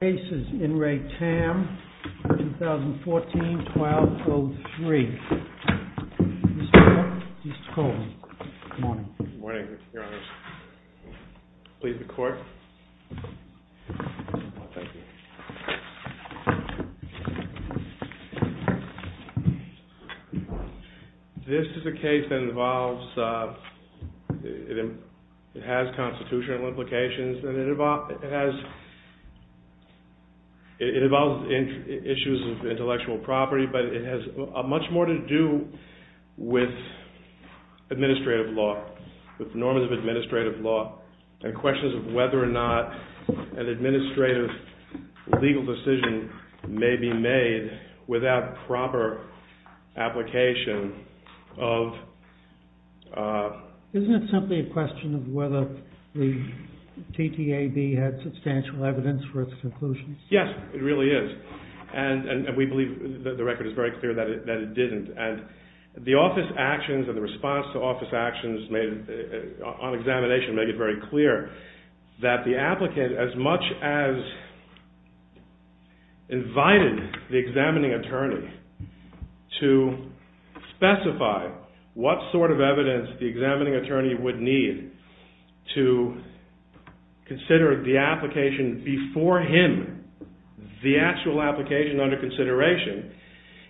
The case is In Re Tam, 2014-1203. Mr. Miller, please call me. Good morning. Good morning, Your Honors. Please be quiet. Thank you. This is a case that involves... It has constitutional implications. It involves issues of intellectual property, but it has much more to do with administrative law, with norms of administrative law, and questions of whether or not an administrative legal decision may be made without proper application of... Isn't it simply a question of whether the TTAB had substantial evidence for its conclusions? Yes, it really is. And we believe that the record is very clear that it didn't. And the office actions and the response to office actions on examination make it very clear that the applicant, as much as invited the examining attorney to specify what sort of evidence the examining attorney would need to consider the application before him, the actual application under consideration,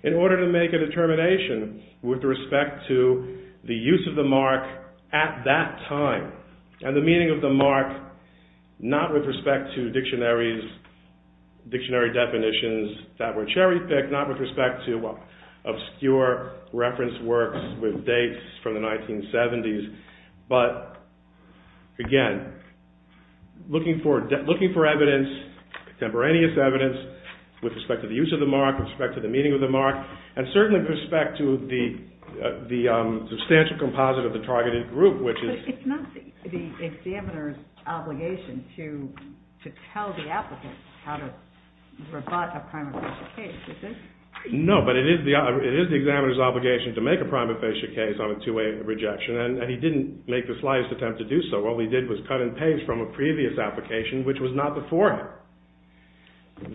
in order to make a determination with respect to the use of the mark at that time and the meaning of the mark, not with respect to dictionary definitions that were cherry-picked, not with respect to obscure reference works with dates from the 1970s, but, again, looking for evidence, contemporaneous evidence, with respect to the use of the mark, with respect to the meaning of the mark, and certainly with respect to the substantial composite of the targeted group, which is... But it's not the examiner's obligation to tell the applicant how to rebut a prima facie case, is it? No, but it is the examiner's obligation to make a prima facie case on a two-way rejection, and he didn't make the slightest attempt to do so. All he did was cut and paste from a previous application, which was not before him.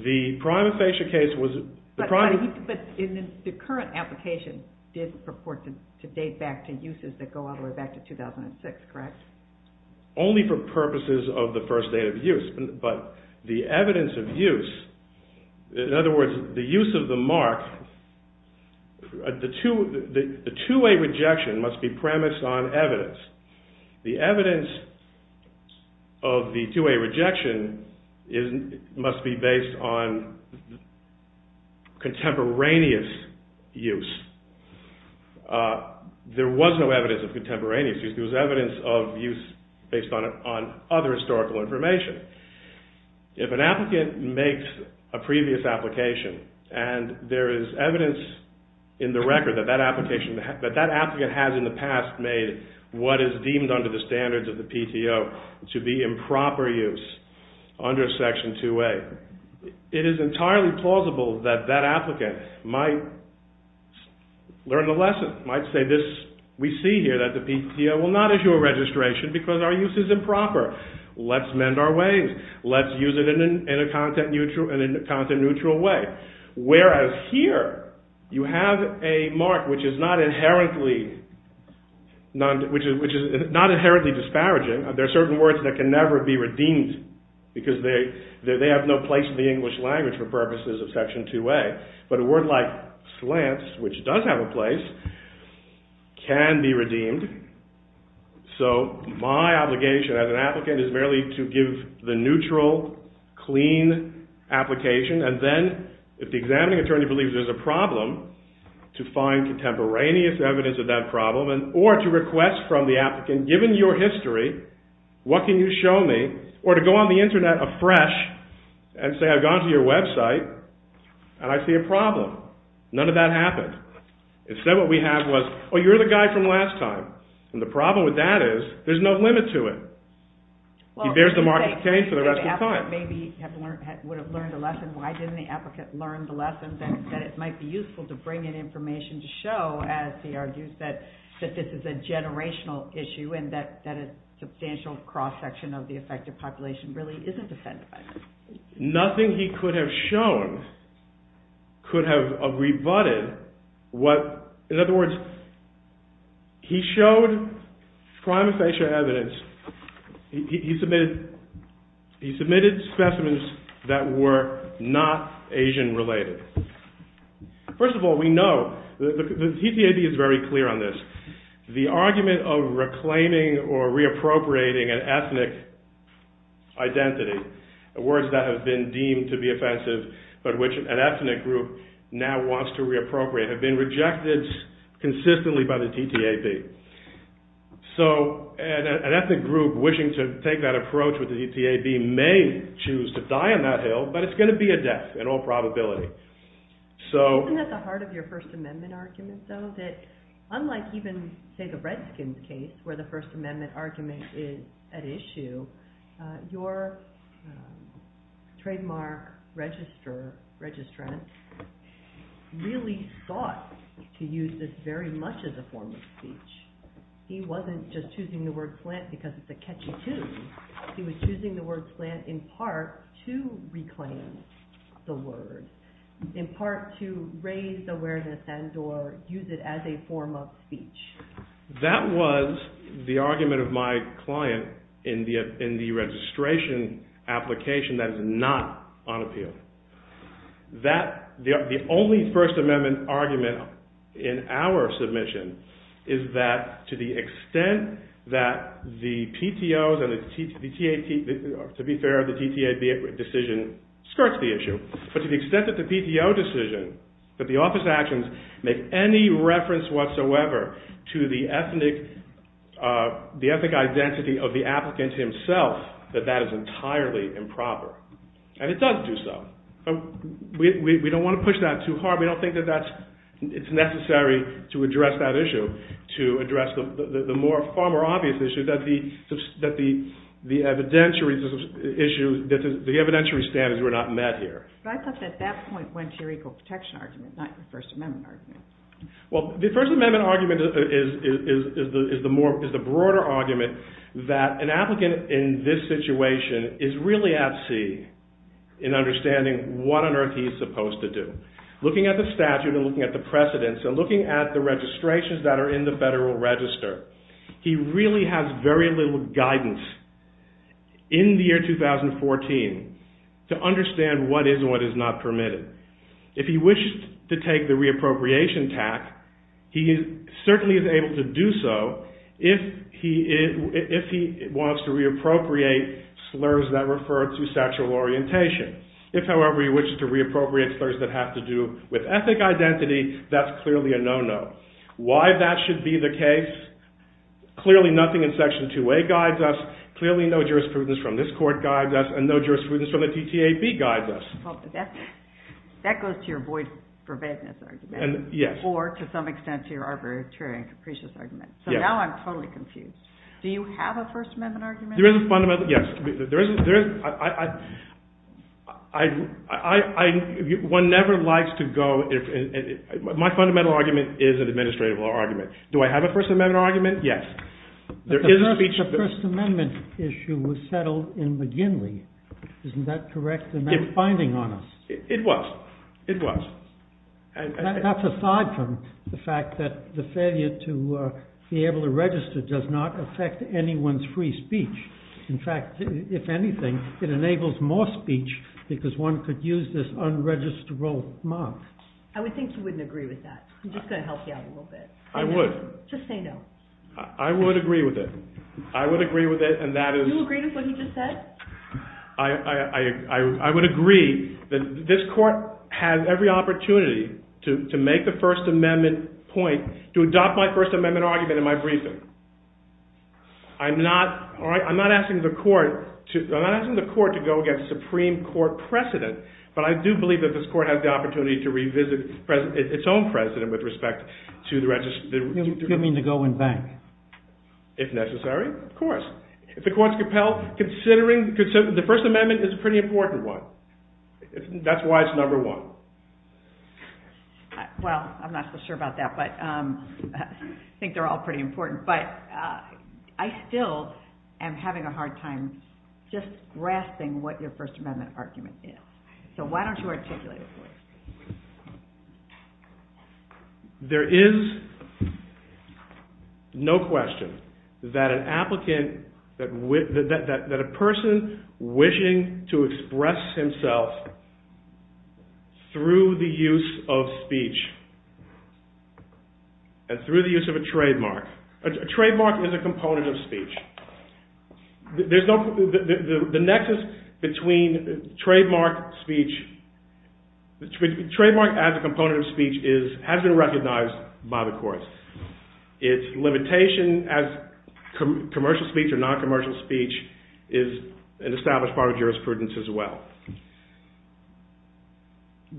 The prima facie case was... But the current application did purport to date back to uses that go all the way back to 2006, correct? Only for purposes of the first date of use, but the evidence of use, in other words, the use of the mark, the two-way rejection must be premised on evidence. The evidence of the two-way rejection must be based on contemporaneous use. There was no evidence of contemporaneous use. There was evidence of use based on other historical information. If an applicant makes a previous application and there is evidence in the record that that application... that that applicant has in the past made what is deemed under the standards of the PTO to be improper use under Section 2A, it is entirely plausible that that applicant might learn a lesson, might say, we see here that the PTO will not issue a registration because our use is improper. Let's mend our ways. Let's use it in a content-neutral way. Whereas here, you have a mark which is not inherently disparaging. There are certain words that can never be redeemed because they have no place in the English language for purposes of Section 2A. But a word like slants, which does have a place, can be redeemed. So my obligation as an applicant is merely to give the neutral, clean application. And then, if the examining attorney believes there is a problem, to find contemporaneous evidence of that problem or to request from the applicant, given your history, what can you show me? Or to go on the Internet afresh and say, I've gone to your website and I see a problem. None of that happened. Instead, what we have was, oh, you're the guy from last time. And the problem with that is, there's no limit to it. He bears the mark for the rest of the time. Maybe he would have learned a lesson. Why didn't the applicant learn the lesson that it might be useful to bring in information to show, as he argues, that this is a generational issue and that a substantial cross-section of the affected population really isn't offended by this? Nothing he could have shown could have rebutted what... In other words, he showed prima facie evidence. He submitted specimens that were not Asian-related. First of all, we know. The TCAB is very clear on this. The argument of reclaiming or reappropriating an ethnic identity, words that have been deemed to be offensive but which an ethnic group now wants to reappropriate have been rejected consistently by the TTAB. So an ethnic group wishing to take that approach with the TTAB may choose to die on that hill, but it's going to be a death in all probability. Isn't that the heart of your First Amendment argument, though? That unlike even, say, the Redskins case, where the First Amendment argument is at issue, your trademark registrant really sought to use this very much as a form of speech. He wasn't just choosing the word slant because it's a catchy tune. He was choosing the word slant in part to reclaim the word, in part to raise awareness and or use it as a form of speech. That was the argument of my client in the registration application that is not on appeal. The only First Amendment argument in our submission is that to the extent that the PTOs and the TTAB, to be fair, the TTAB decision skirts the issue, but to the extent that the PTO decision, that the office actions make any reference whatsoever to the ethnic identity of the applicant himself, that that is entirely improper. And it doesn't do so. We don't want to push that too hard. We don't think that it's necessary to address that issue, to address the far more obvious issue that the evidentiary standards were not met here. But I thought that that point went to your equal protection argument, not your First Amendment argument. Well, the First Amendment argument is the broader argument that an applicant in this situation is really at sea in understanding what on earth he's supposed to do. Looking at the statute and looking at the precedents and looking at the registrations that are in the Federal Register, he really has very little guidance in the year 2014 to understand what is and what is not permitted. If he wished to take the re-appropriation tact, he certainly is able to do so if he wants to re-appropriate slurs that refer to sexual orientation. If, however, he wishes to re-appropriate slurs that have to do with ethnic identity, that's clearly a no-no. Why that should be the case, clearly nothing in Section 2A guides us, clearly no jurisprudence from this Court guides us, and no jurisprudence from the DTAB guides us. Well, that goes to your void preventiveness argument. Yes. Or, to some extent, to your arbitrary and capricious argument. So now I'm totally confused. Do you have a First Amendment argument? There is a fundamental, yes. One never likes to go... My fundamental argument is an administrative law argument. Do I have a First Amendment argument? Yes. The First Amendment issue was settled in McGinley. Isn't that correct in that finding on us? It was. It was. That's aside from the fact that the failure to be able to register does not affect anyone's free speech. In fact, if anything, it enables more speech because one could use this unregisterable mark. I would think you wouldn't agree with that. I'm just going to help you out a little bit. I would. Just say no. I would agree with it. I would agree with it, and that is... Do you agree with what he just said? I would agree that this Court has every opportunity to make the First Amendment point, to adopt my First Amendment argument in my briefing. I'm not asking the Court to go against Supreme Court precedent, but I do believe that this Court has the opportunity to revisit its own precedent with respect to the... You mean to go and back? If necessary, of course. If the Court's compelled, considering the First Amendment is a pretty important one. That's why it's number one. Well, I'm not so sure about that, but I think they're all pretty important, but I still am having a hard time just grasping what your First Amendment argument is. So why don't you articulate it for us? There is no question that an applicant... that a person wishing to express himself through the use of speech, and through the use of a trademark... A trademark is a component of speech. There's no... The nexus between trademark speech... Trademark as a component of speech has been recognized by the Court. Its limitation as commercial speech or non-commercial speech is an established part of jurisprudence as well.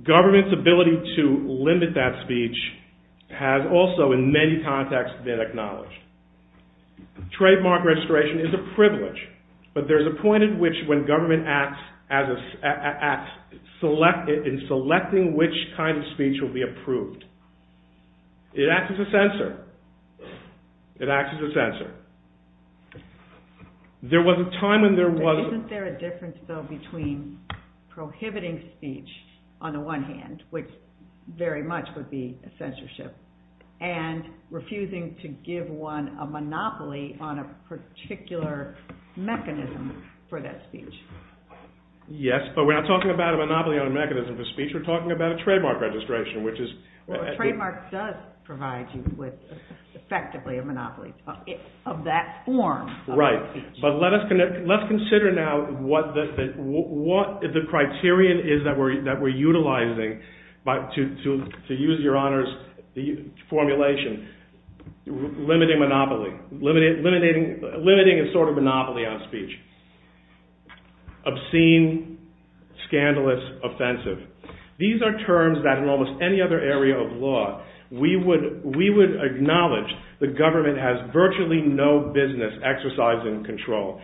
Government's ability to limit that speech has also, in many contexts, been acknowledged. Trademark registration is a privilege, but there's a point at which when government acts in selecting which kind of speech will be approved, it acts as a censor. It acts as a censor. There was a time when there was... Isn't there a difference, though, between prohibiting speech, on the one hand, which very much would be a censorship, and refusing to give one a monopoly on a particular mechanism for that speech? Yes, but we're not talking about a monopoly on a mechanism for speech. We're talking about a trademark registration, which is... Well, a trademark does provide you with, effectively, a monopoly of that form. Right, but let's consider now what the criterion is that we're utilizing to use Your Honor's formulation, limiting a sort of monopoly on speech. Obscene, scandalous, offensive. These are terms that in almost any other area of law, we would acknowledge the government has virtually no business exercising control.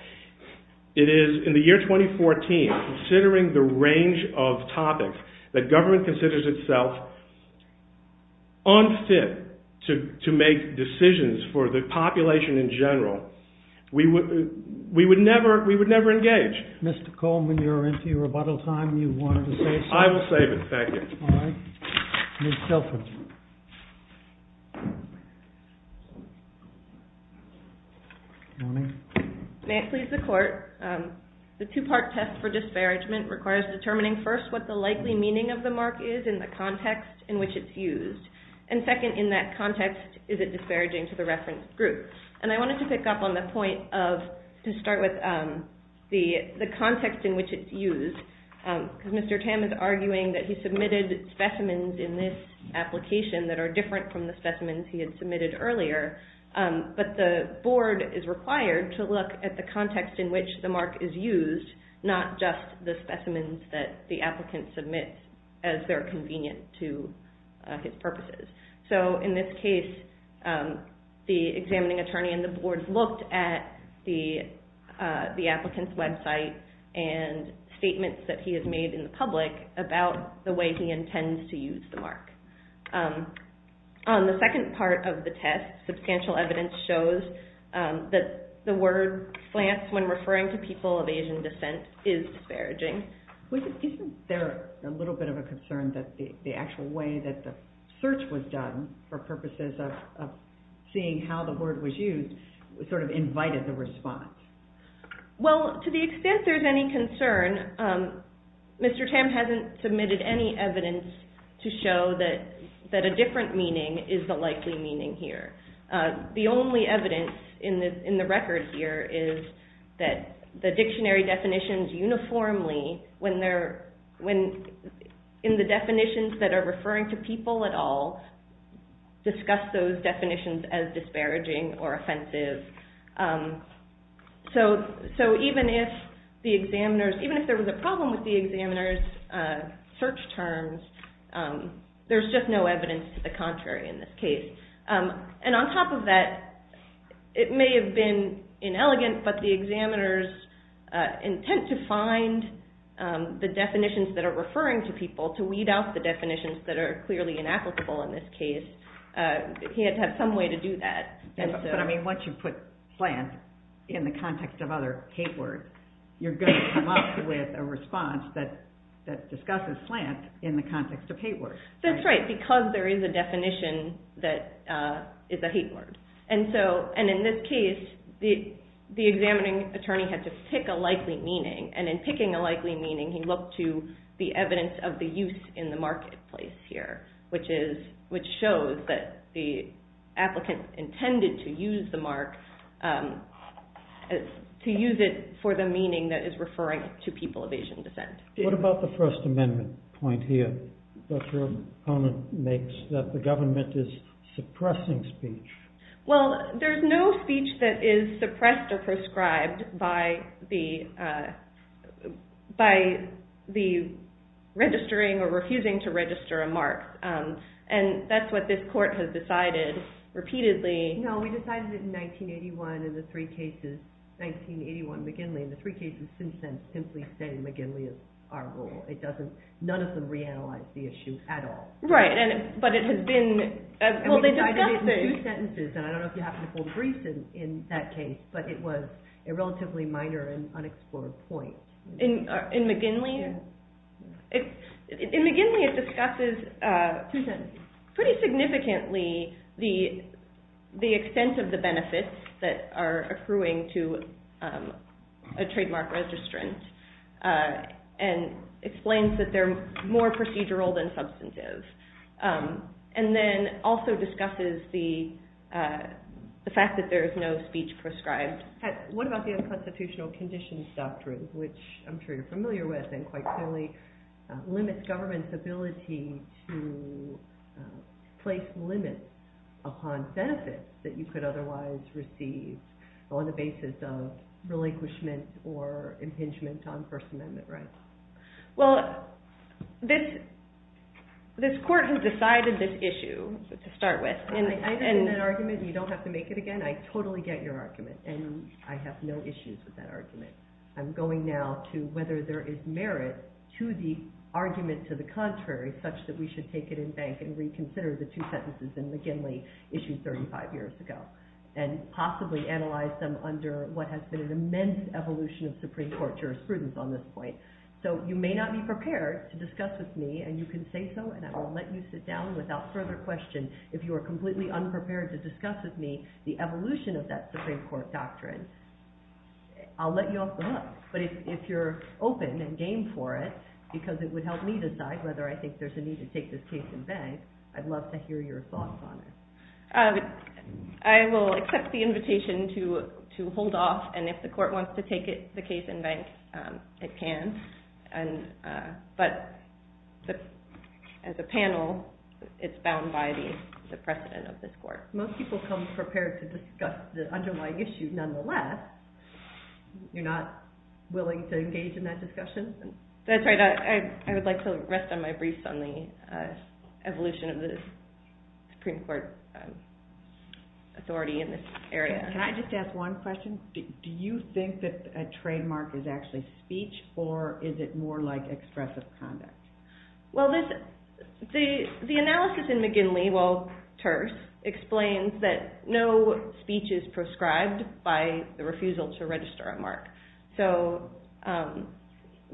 It is, in the year 2014, considering the range of topics that government considers itself unfit to make decisions for the population in general. We would never engage. Mr. Coleman, you're into your rebuttal time. You wanted to say something? I will save it. Thank you. All right. Ms. Telford. Good morning. May it please the Court, the two-part test for disparagement requires determining first what the likely meaning of the mark is in the context in which it's used. And second, in that context, is it disparaging to the reference group? And I wanted to pick up on the point of, to start with the context in which it's used, because Mr. Tam is arguing that he submitted specimens in this application that are different from the specimens he had submitted earlier, but the Board is required to look at the context in which the mark is used, not just the specimens that the applicant submits as they're convenient to his purposes. So in this case, the examining attorney and the Board looked at the applicant's website and statements that he has made in the public about the way he intends to use the mark. On the second part of the test, substantial evidence shows that the word slants when referring to people of Asian descent is disparaging. Isn't there a little bit of a concern that the actual way that the search was done for purposes of seeing how the word was used sort of invited the response? Well, to the extent there's any concern, Mr. Tam hasn't submitted any evidence to show that a different meaning is the likely meaning here. The only evidence in the record here is that the dictionary definitions uniformly, in the definitions that are referring to people at all, discuss those definitions as disparaging or offensive. So even if there was a problem with the examiner's search terms, there's just no evidence to the contrary in this case. And on top of that, it may have been inelegant, but the examiner's intent to find the definitions that are referring to people, to weed out the definitions that are clearly inapplicable in this case, he had to have some way to do that. But I mean, once you put slant in the context of other hate words, you're going to come up with a response that discusses slant in the context of hate words. That's right, because there is a definition that is a hate word. And in this case, the examining attorney had to pick a likely meaning, and in picking a likely meaning, he looked to the evidence of the use in the marketplace here, which shows that the applicant intended to use the mark, to use it for the meaning that is referring to people of Asian descent. What about the First Amendment point here that your opponent makes, that the government is suppressing speech? Well, there's no speech that is suppressed or prescribed by the registering or refusing to register a mark. And that's what this court has decided repeatedly. No, we decided it in 1981 in the three cases, 1981 McGinley, and the three cases since then simply say McGinley is our rule. None of them reanalyze the issue at all. Right, but it has been... We decided it in two sentences, and I don't know if you happen to hold Greece in that case, but it was a relatively minor and unexplored point. In McGinley? In McGinley, it discusses pretty significantly the extent of the benefits that are accruing to a trademark registrant, and explains that they're more procedural than substantive. And then also discusses the fact that there is no speech prescribed. What about the unconstitutional conditions doctrine, which I'm sure you're familiar with, and quite clearly limits government's ability to place limits upon benefits that you could otherwise receive on the basis of relinquishment or impingement on First Amendment rights? Well, this court has decided this issue to start with, I've been in that argument, and you don't have to make it again. I totally get your argument, and I have no issues with that argument. I'm going now to whether there is merit to the argument to the contrary, such that we should take it in bank and reconsider the two sentences in McGinley, issued 35 years ago, and possibly analyze them under what has been an immense evolution of Supreme Court jurisprudence on this point. So you may not be prepared to discuss with me, and you can say so, and I will let you sit down without further question. If you are completely unprepared to discuss with me the evolution of that Supreme Court doctrine, I'll let you off the hook. But if you're open and game for it, because it would help me decide whether I think there's a need to take this case in bank, I'd love to hear your thoughts on it. I will accept the invitation to hold off, and if the court wants to take the case in bank, it can. But as a panel, it's bound by the precedent of this court. Most people come prepared to discuss the underlying issue nonetheless. You're not willing to engage in that discussion? That's right. I would like to rest on my briefs on the evolution of the Supreme Court authority in this area. Can I just ask one question? Do you think that a trademark is actually speech or is it more like expressive conduct? Well, the analysis in McGinley, while terse, explains that no speech is prescribed by the refusal to register a mark. So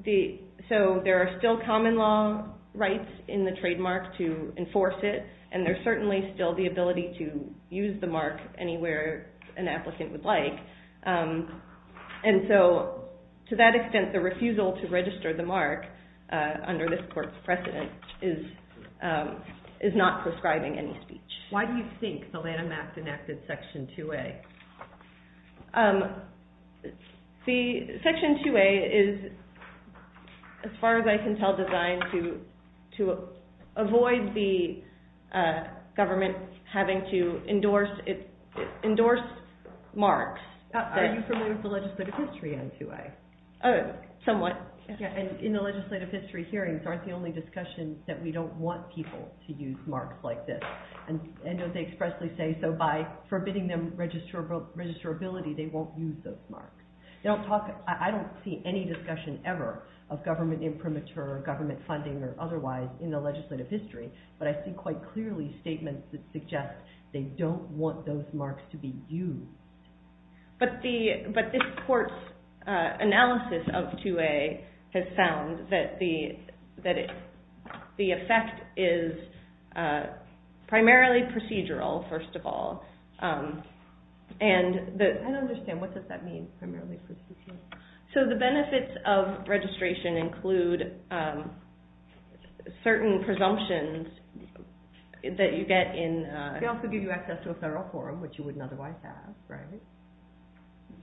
there are still common law rights in the trademark to enforce it, and there's certainly still the ability to use the mark anywhere an applicant would like. And so, to that extent, the refusal to register the mark under this court's precedent is not prescribing any speech. Why do you think the Lanham Act enacted Section 2A? Section 2A is, as far as I can tell, designed to avoid the government having to endorse marks. Are you familiar with the legislative history on 2A? Somewhat. In the legislative history hearings, aren't the only discussions that we don't want people to use marks like this? And don't they expressly say, so by forbidding them registrability, they won't use those marks? I don't see any discussion ever of government imprimatur or government funding or otherwise in the legislative history, but I see quite clearly statements that suggest they don't want those marks to be used. But this court's analysis of 2A has found that the effect is primarily procedural, first of all. I don't understand, what does that mean, primarily procedural? So the benefits of registration include certain presumptions that you get in... They also give you access to a federal forum, which you wouldn't otherwise have, right?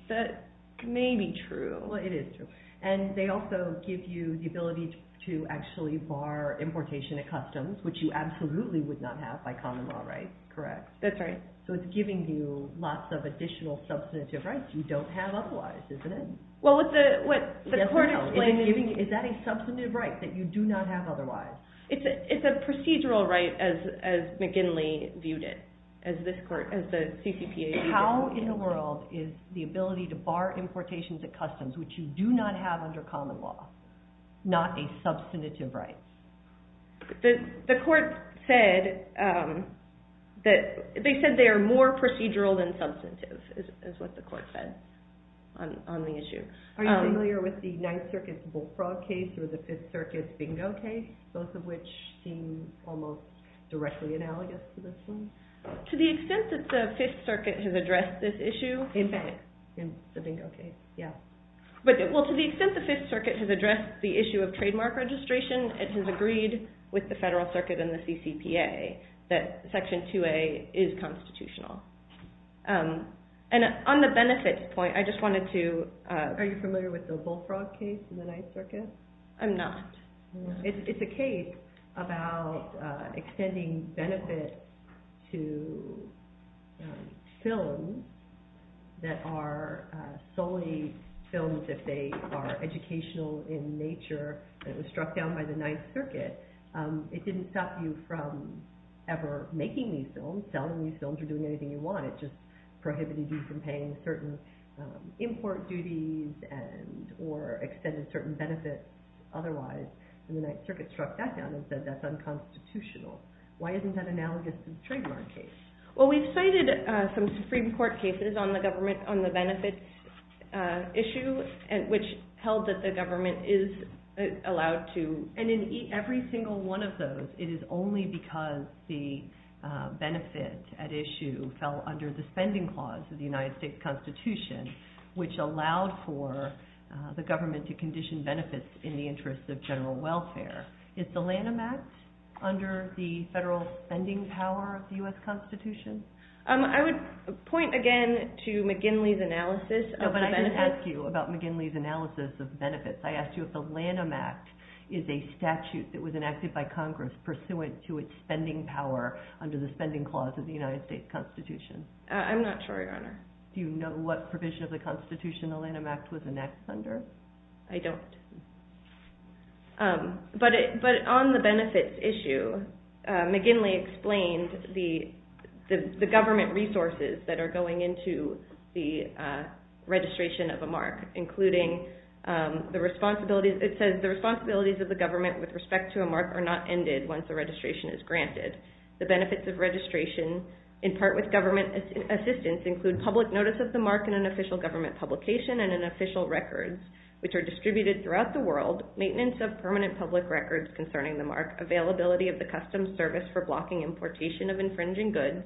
That may be true. Well, it is true. And they also give you the ability to actually bar importation at customs, which you absolutely would not have by common law, right? Correct. That's right. So it's giving you lots of additional substantive rights you don't have otherwise, isn't it? Well, what the court explained is... Is that a substantive right that you do not have otherwise? It's a procedural right, as McGinley viewed it, as the CCPA viewed it. How in the world is the ability to bar importation at customs, which you do not have under common law, not a substantive right? The court said that... They said they are more procedural than substantive, is what the court said on the issue. Are you familiar with the Ninth Circuit's Bullfrog case or the Fifth Circuit's Bingo case, both of which seem almost directly analogous to this one? To the extent that the Fifth Circuit has addressed this issue... In the Bingo case, yeah. Well, to the extent the Fifth Circuit has addressed the issue of trademark registration and has agreed with the Federal Circuit and the CCPA that Section 2A is constitutional. And on the benefits point, I just wanted to... Are you familiar with the Bullfrog case in the Ninth Circuit? I'm not. It's a case about extending benefits to films that are solely films if they are educational in nature and it was struck down by the Ninth Circuit. It didn't stop you from ever making these films, selling these films or doing anything you wanted. It just prohibited you from paying certain import duties or extending certain benefits otherwise. And the Ninth Circuit struck that down and said that's unconstitutional. Why isn't that analogous to the trademark case? Well, we've cited some Supreme Court cases on the government on the benefits issue which held that the government is allowed to... And in every single one of those, it is only because the benefit at issue fell under the spending clause of the United States Constitution which allowed for the government to condition benefits in the interest of general welfare. Is the Lanham Act under the federal spending power of the U.S. Constitution? I would point again to McGinley's analysis of benefits... No, but I didn't ask you about McGinley's analysis of benefits. I asked you if the Lanham Act is a statute that was enacted by Congress pursuant to its spending power under the spending clause of the United States Constitution. I'm not sure, Your Honor. Do you know what provision of the Constitution the Lanham Act was enacted under? I don't. But on the benefits issue, McGinley explained the government resources that are going into the registration of a mark including the responsibilities... once the registration is granted. The benefits of registration, in part with government assistance, include public notice of the mark in an official government publication and in official records which are distributed throughout the world, maintenance of permanent public records concerning the mark, availability of the customs service for blocking importation of infringing goods,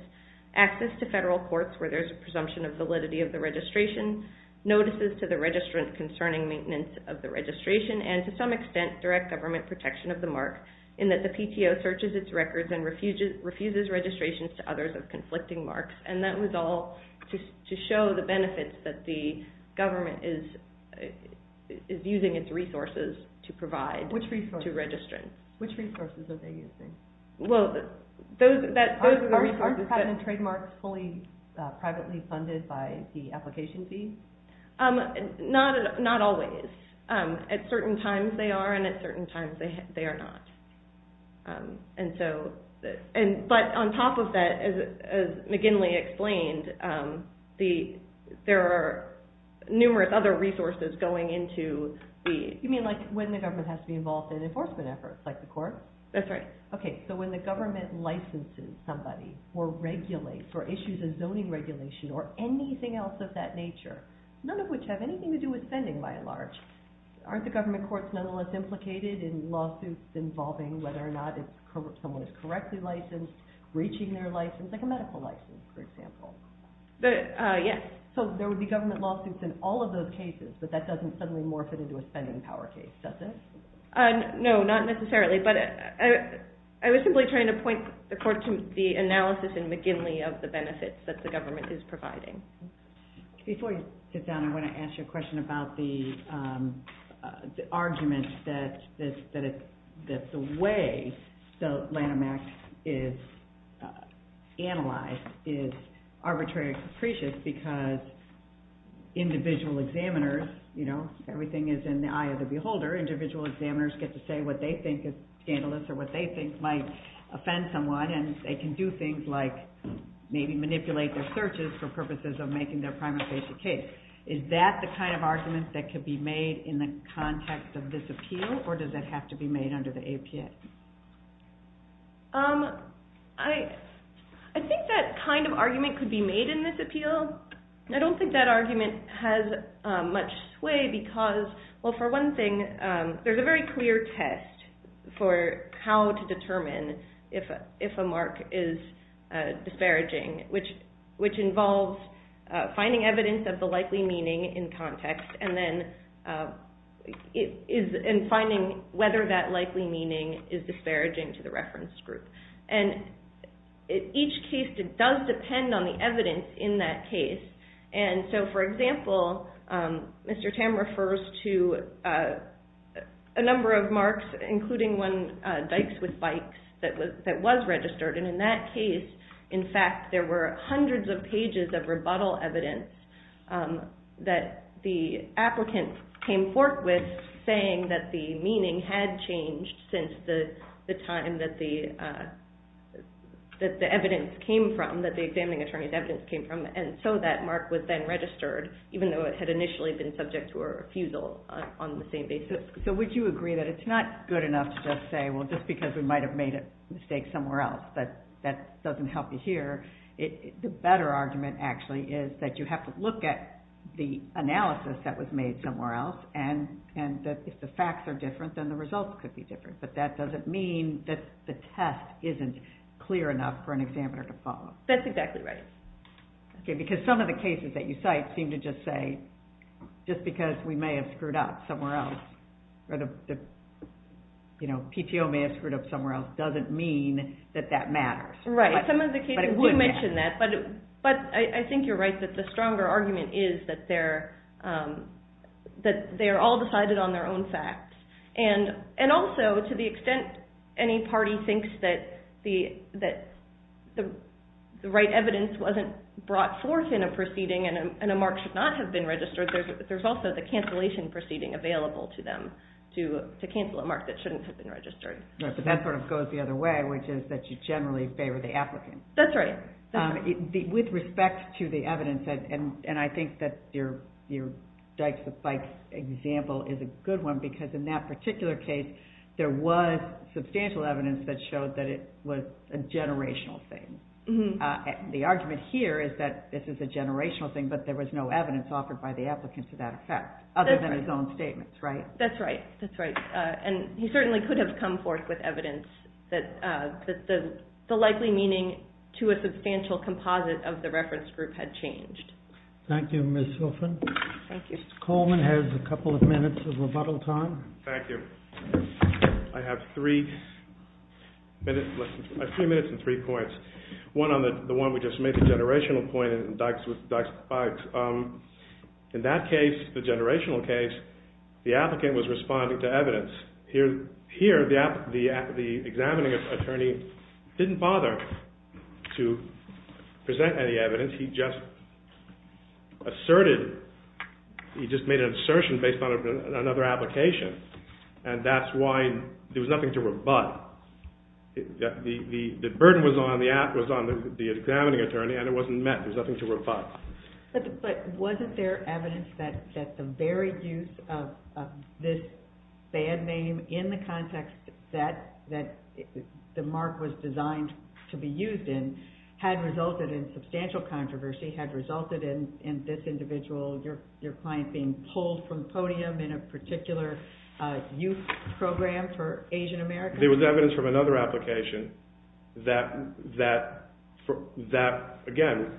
access to federal courts where there's a presumption of validity of the registration, notices to the registrant concerning maintenance of the registration, and to some extent, direct government protection of the mark in that the PTO searches its records and refuses registrations to others of conflicting marks. And that was all to show the benefits that the government is using its resources to provide to registrants. Which resources are they using? Well, those are the resources that... Aren't permanent trademarks fully privately funded by the application fees? Not always. At certain times they are, and at certain times they are not. And so... But on top of that, as McGinley explained, there are numerous other resources going into the... You mean like when the government has to be involved in enforcement efforts, like the courts? That's right. Okay, so when the government licenses somebody or regulates or issues a zoning regulation or anything else of that nature, none of which have anything to do with spending by and large, aren't the government courts nonetheless implicated in lawsuits involving whether or not someone is correctly licensed, breaching their license, like a medical license, for example? Yes. So there would be government lawsuits in all of those cases, but that doesn't suddenly morph it into a spending power case, does it? No, not necessarily. But I was simply trying to point the court to the analysis in McGinley of the benefits that the government is providing. Before you sit down, I want to ask you a question about the argument that the way the Lanham Act is analyzed is arbitrary and capricious because individual examiners, you know, everything is in the eye of the beholder. Individual examiners get to say what they think is scandalous or what they think might offend someone, and they can do things like maybe manipulate their searches for purposes of making their prima facie case. Is that the kind of argument that could be made in the context of this appeal, or does it have to be made under the APS? I think that kind of argument could be made in this appeal. I don't think that argument has much sway because, well, for one thing, there's a very clear test for how to determine if a mark is disparaging, which involves finding evidence of the likely meaning in context and then finding whether that likely meaning is disparaging to the reference group. And each case does depend on the evidence in that case. And so, for example, Mr. Tam refers to a number of marks, including one, Dykes with Bikes, that was registered. And in that case, in fact, there were hundreds of pages of rebuttal evidence that the applicant came forth with saying that the meaning had changed since the time that the examining attorney's evidence came from. And so that mark was then registered, even though it had initially been subject to a refusal on the same basis. So would you agree that it's not good enough to just say, well, just because we might have made a mistake somewhere else, that that doesn't help you here? The better argument, actually, is that you have to look at the analysis that was made somewhere else and that if the facts are different, then the results could be different. But that doesn't mean that the test isn't clear enough for an examiner to follow. That's exactly right. Okay, because some of the cases that you cite seem to just say, just because we may have screwed up somewhere else, or the PTO may have screwed up somewhere else, doesn't mean that that matters. Right, some of the cases do mention that. But I think you're right that the stronger argument is that they are all decided on their own facts. And also, to the extent any party thinks that the right evidence wasn't brought forth in a proceeding and a mark should not have been registered, there's also the cancellation proceeding available to them to cancel a mark that shouldn't have been registered. Right, but that sort of goes the other way, which is that you generally favor the applicant. That's right. With respect to the evidence, and I think that your Dykes v. Bikes example is a good one, because in that particular case, there was substantial evidence that showed that it was a generational thing. The argument here is that this is a generational thing, but there was no evidence offered by the applicant to that effect, other than his own statements, right? That's right, that's right. And he certainly could have come forth with evidence that the likely meaning to a substantial composite of the reference group had changed. Thank you, Ms. Silfen. Mr. Coleman has a couple of minutes of rebuttal time. Thank you. I have three minutes and three points. One on the one we just made, the generational point and Dykes v. Bikes. In that case, the generational case, the applicant was responding to evidence. Here, the examining attorney didn't bother to present any evidence. He just asserted, he just made an assertion based on another application, and that's why there was nothing to rebut. The burden was on the examining attorney, and it wasn't met, there was nothing to rebut. But wasn't there evidence that the very use of this bad name in the context that the mark was designed to be used in had resulted in substantial controversy, had resulted in this individual, your client, being pulled from the podium in a particular youth program for Asian Americans? There was evidence from another application that, again,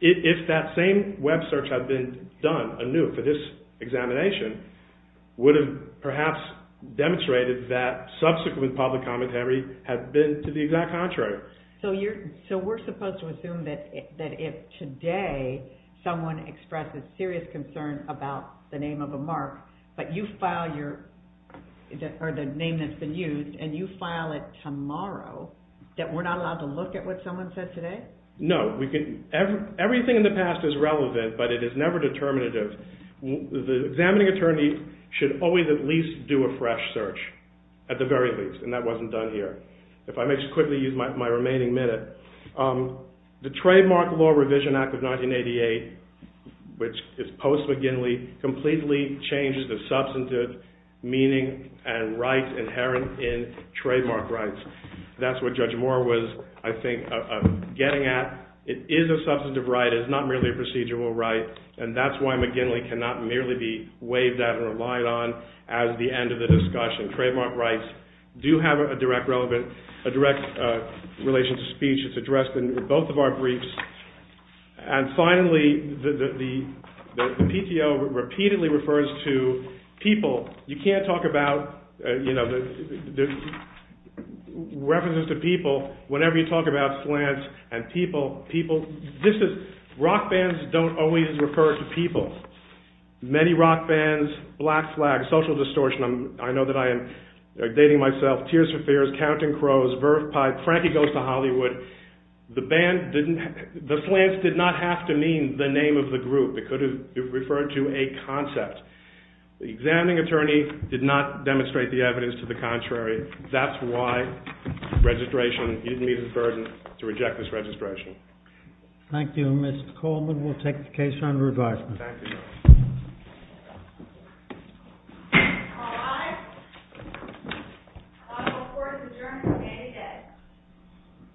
if that same web search had been done anew for this examination, would have perhaps demonstrated that subsequent public commentary had been to the exact contrary. So we're supposed to assume that if today someone expresses serious concern about the name of a mark, but you file your, or the name that's been used, and you file it tomorrow, that we're not allowed to look at what someone said today? No, everything in the past is relevant, but it is never determinative. The examining attorney should always at least do a fresh search, at the very least, and that wasn't done here. If I may just quickly use my remaining minute, the Trademark Law Revision Act of 1988, which is post-McGinley, completely changes the substantive meaning and rights inherent in trademark rights. That's what Judge Moore was, I think, getting at. It is a substantive right. It is not merely a procedural right, and that's why McGinley cannot merely be waived out and relied on as the end of the discussion. Trademark rights do have a direct relation to speech. It's addressed in both of our briefs. And finally, the PTO repeatedly refers to people. You can't talk about references to people whenever you talk about slants and people. Rock bands don't always refer to people. Many rock bands, Black Flag, Social Distortion, I know that I am dating myself, Tears for Fears, Counting Crows, Verve Pipe, Frankie Goes to Hollywood, the slants did not have to mean the name of the group. It could have referred to a concept. The examining attorney did not demonstrate the evidence to the contrary. That's why he didn't meet the burden to reject this registration. Thank you, Mr. Coleman. We'll take the case under advisement. Thank you, Your Honor. All rise. The court is adjourned for the day.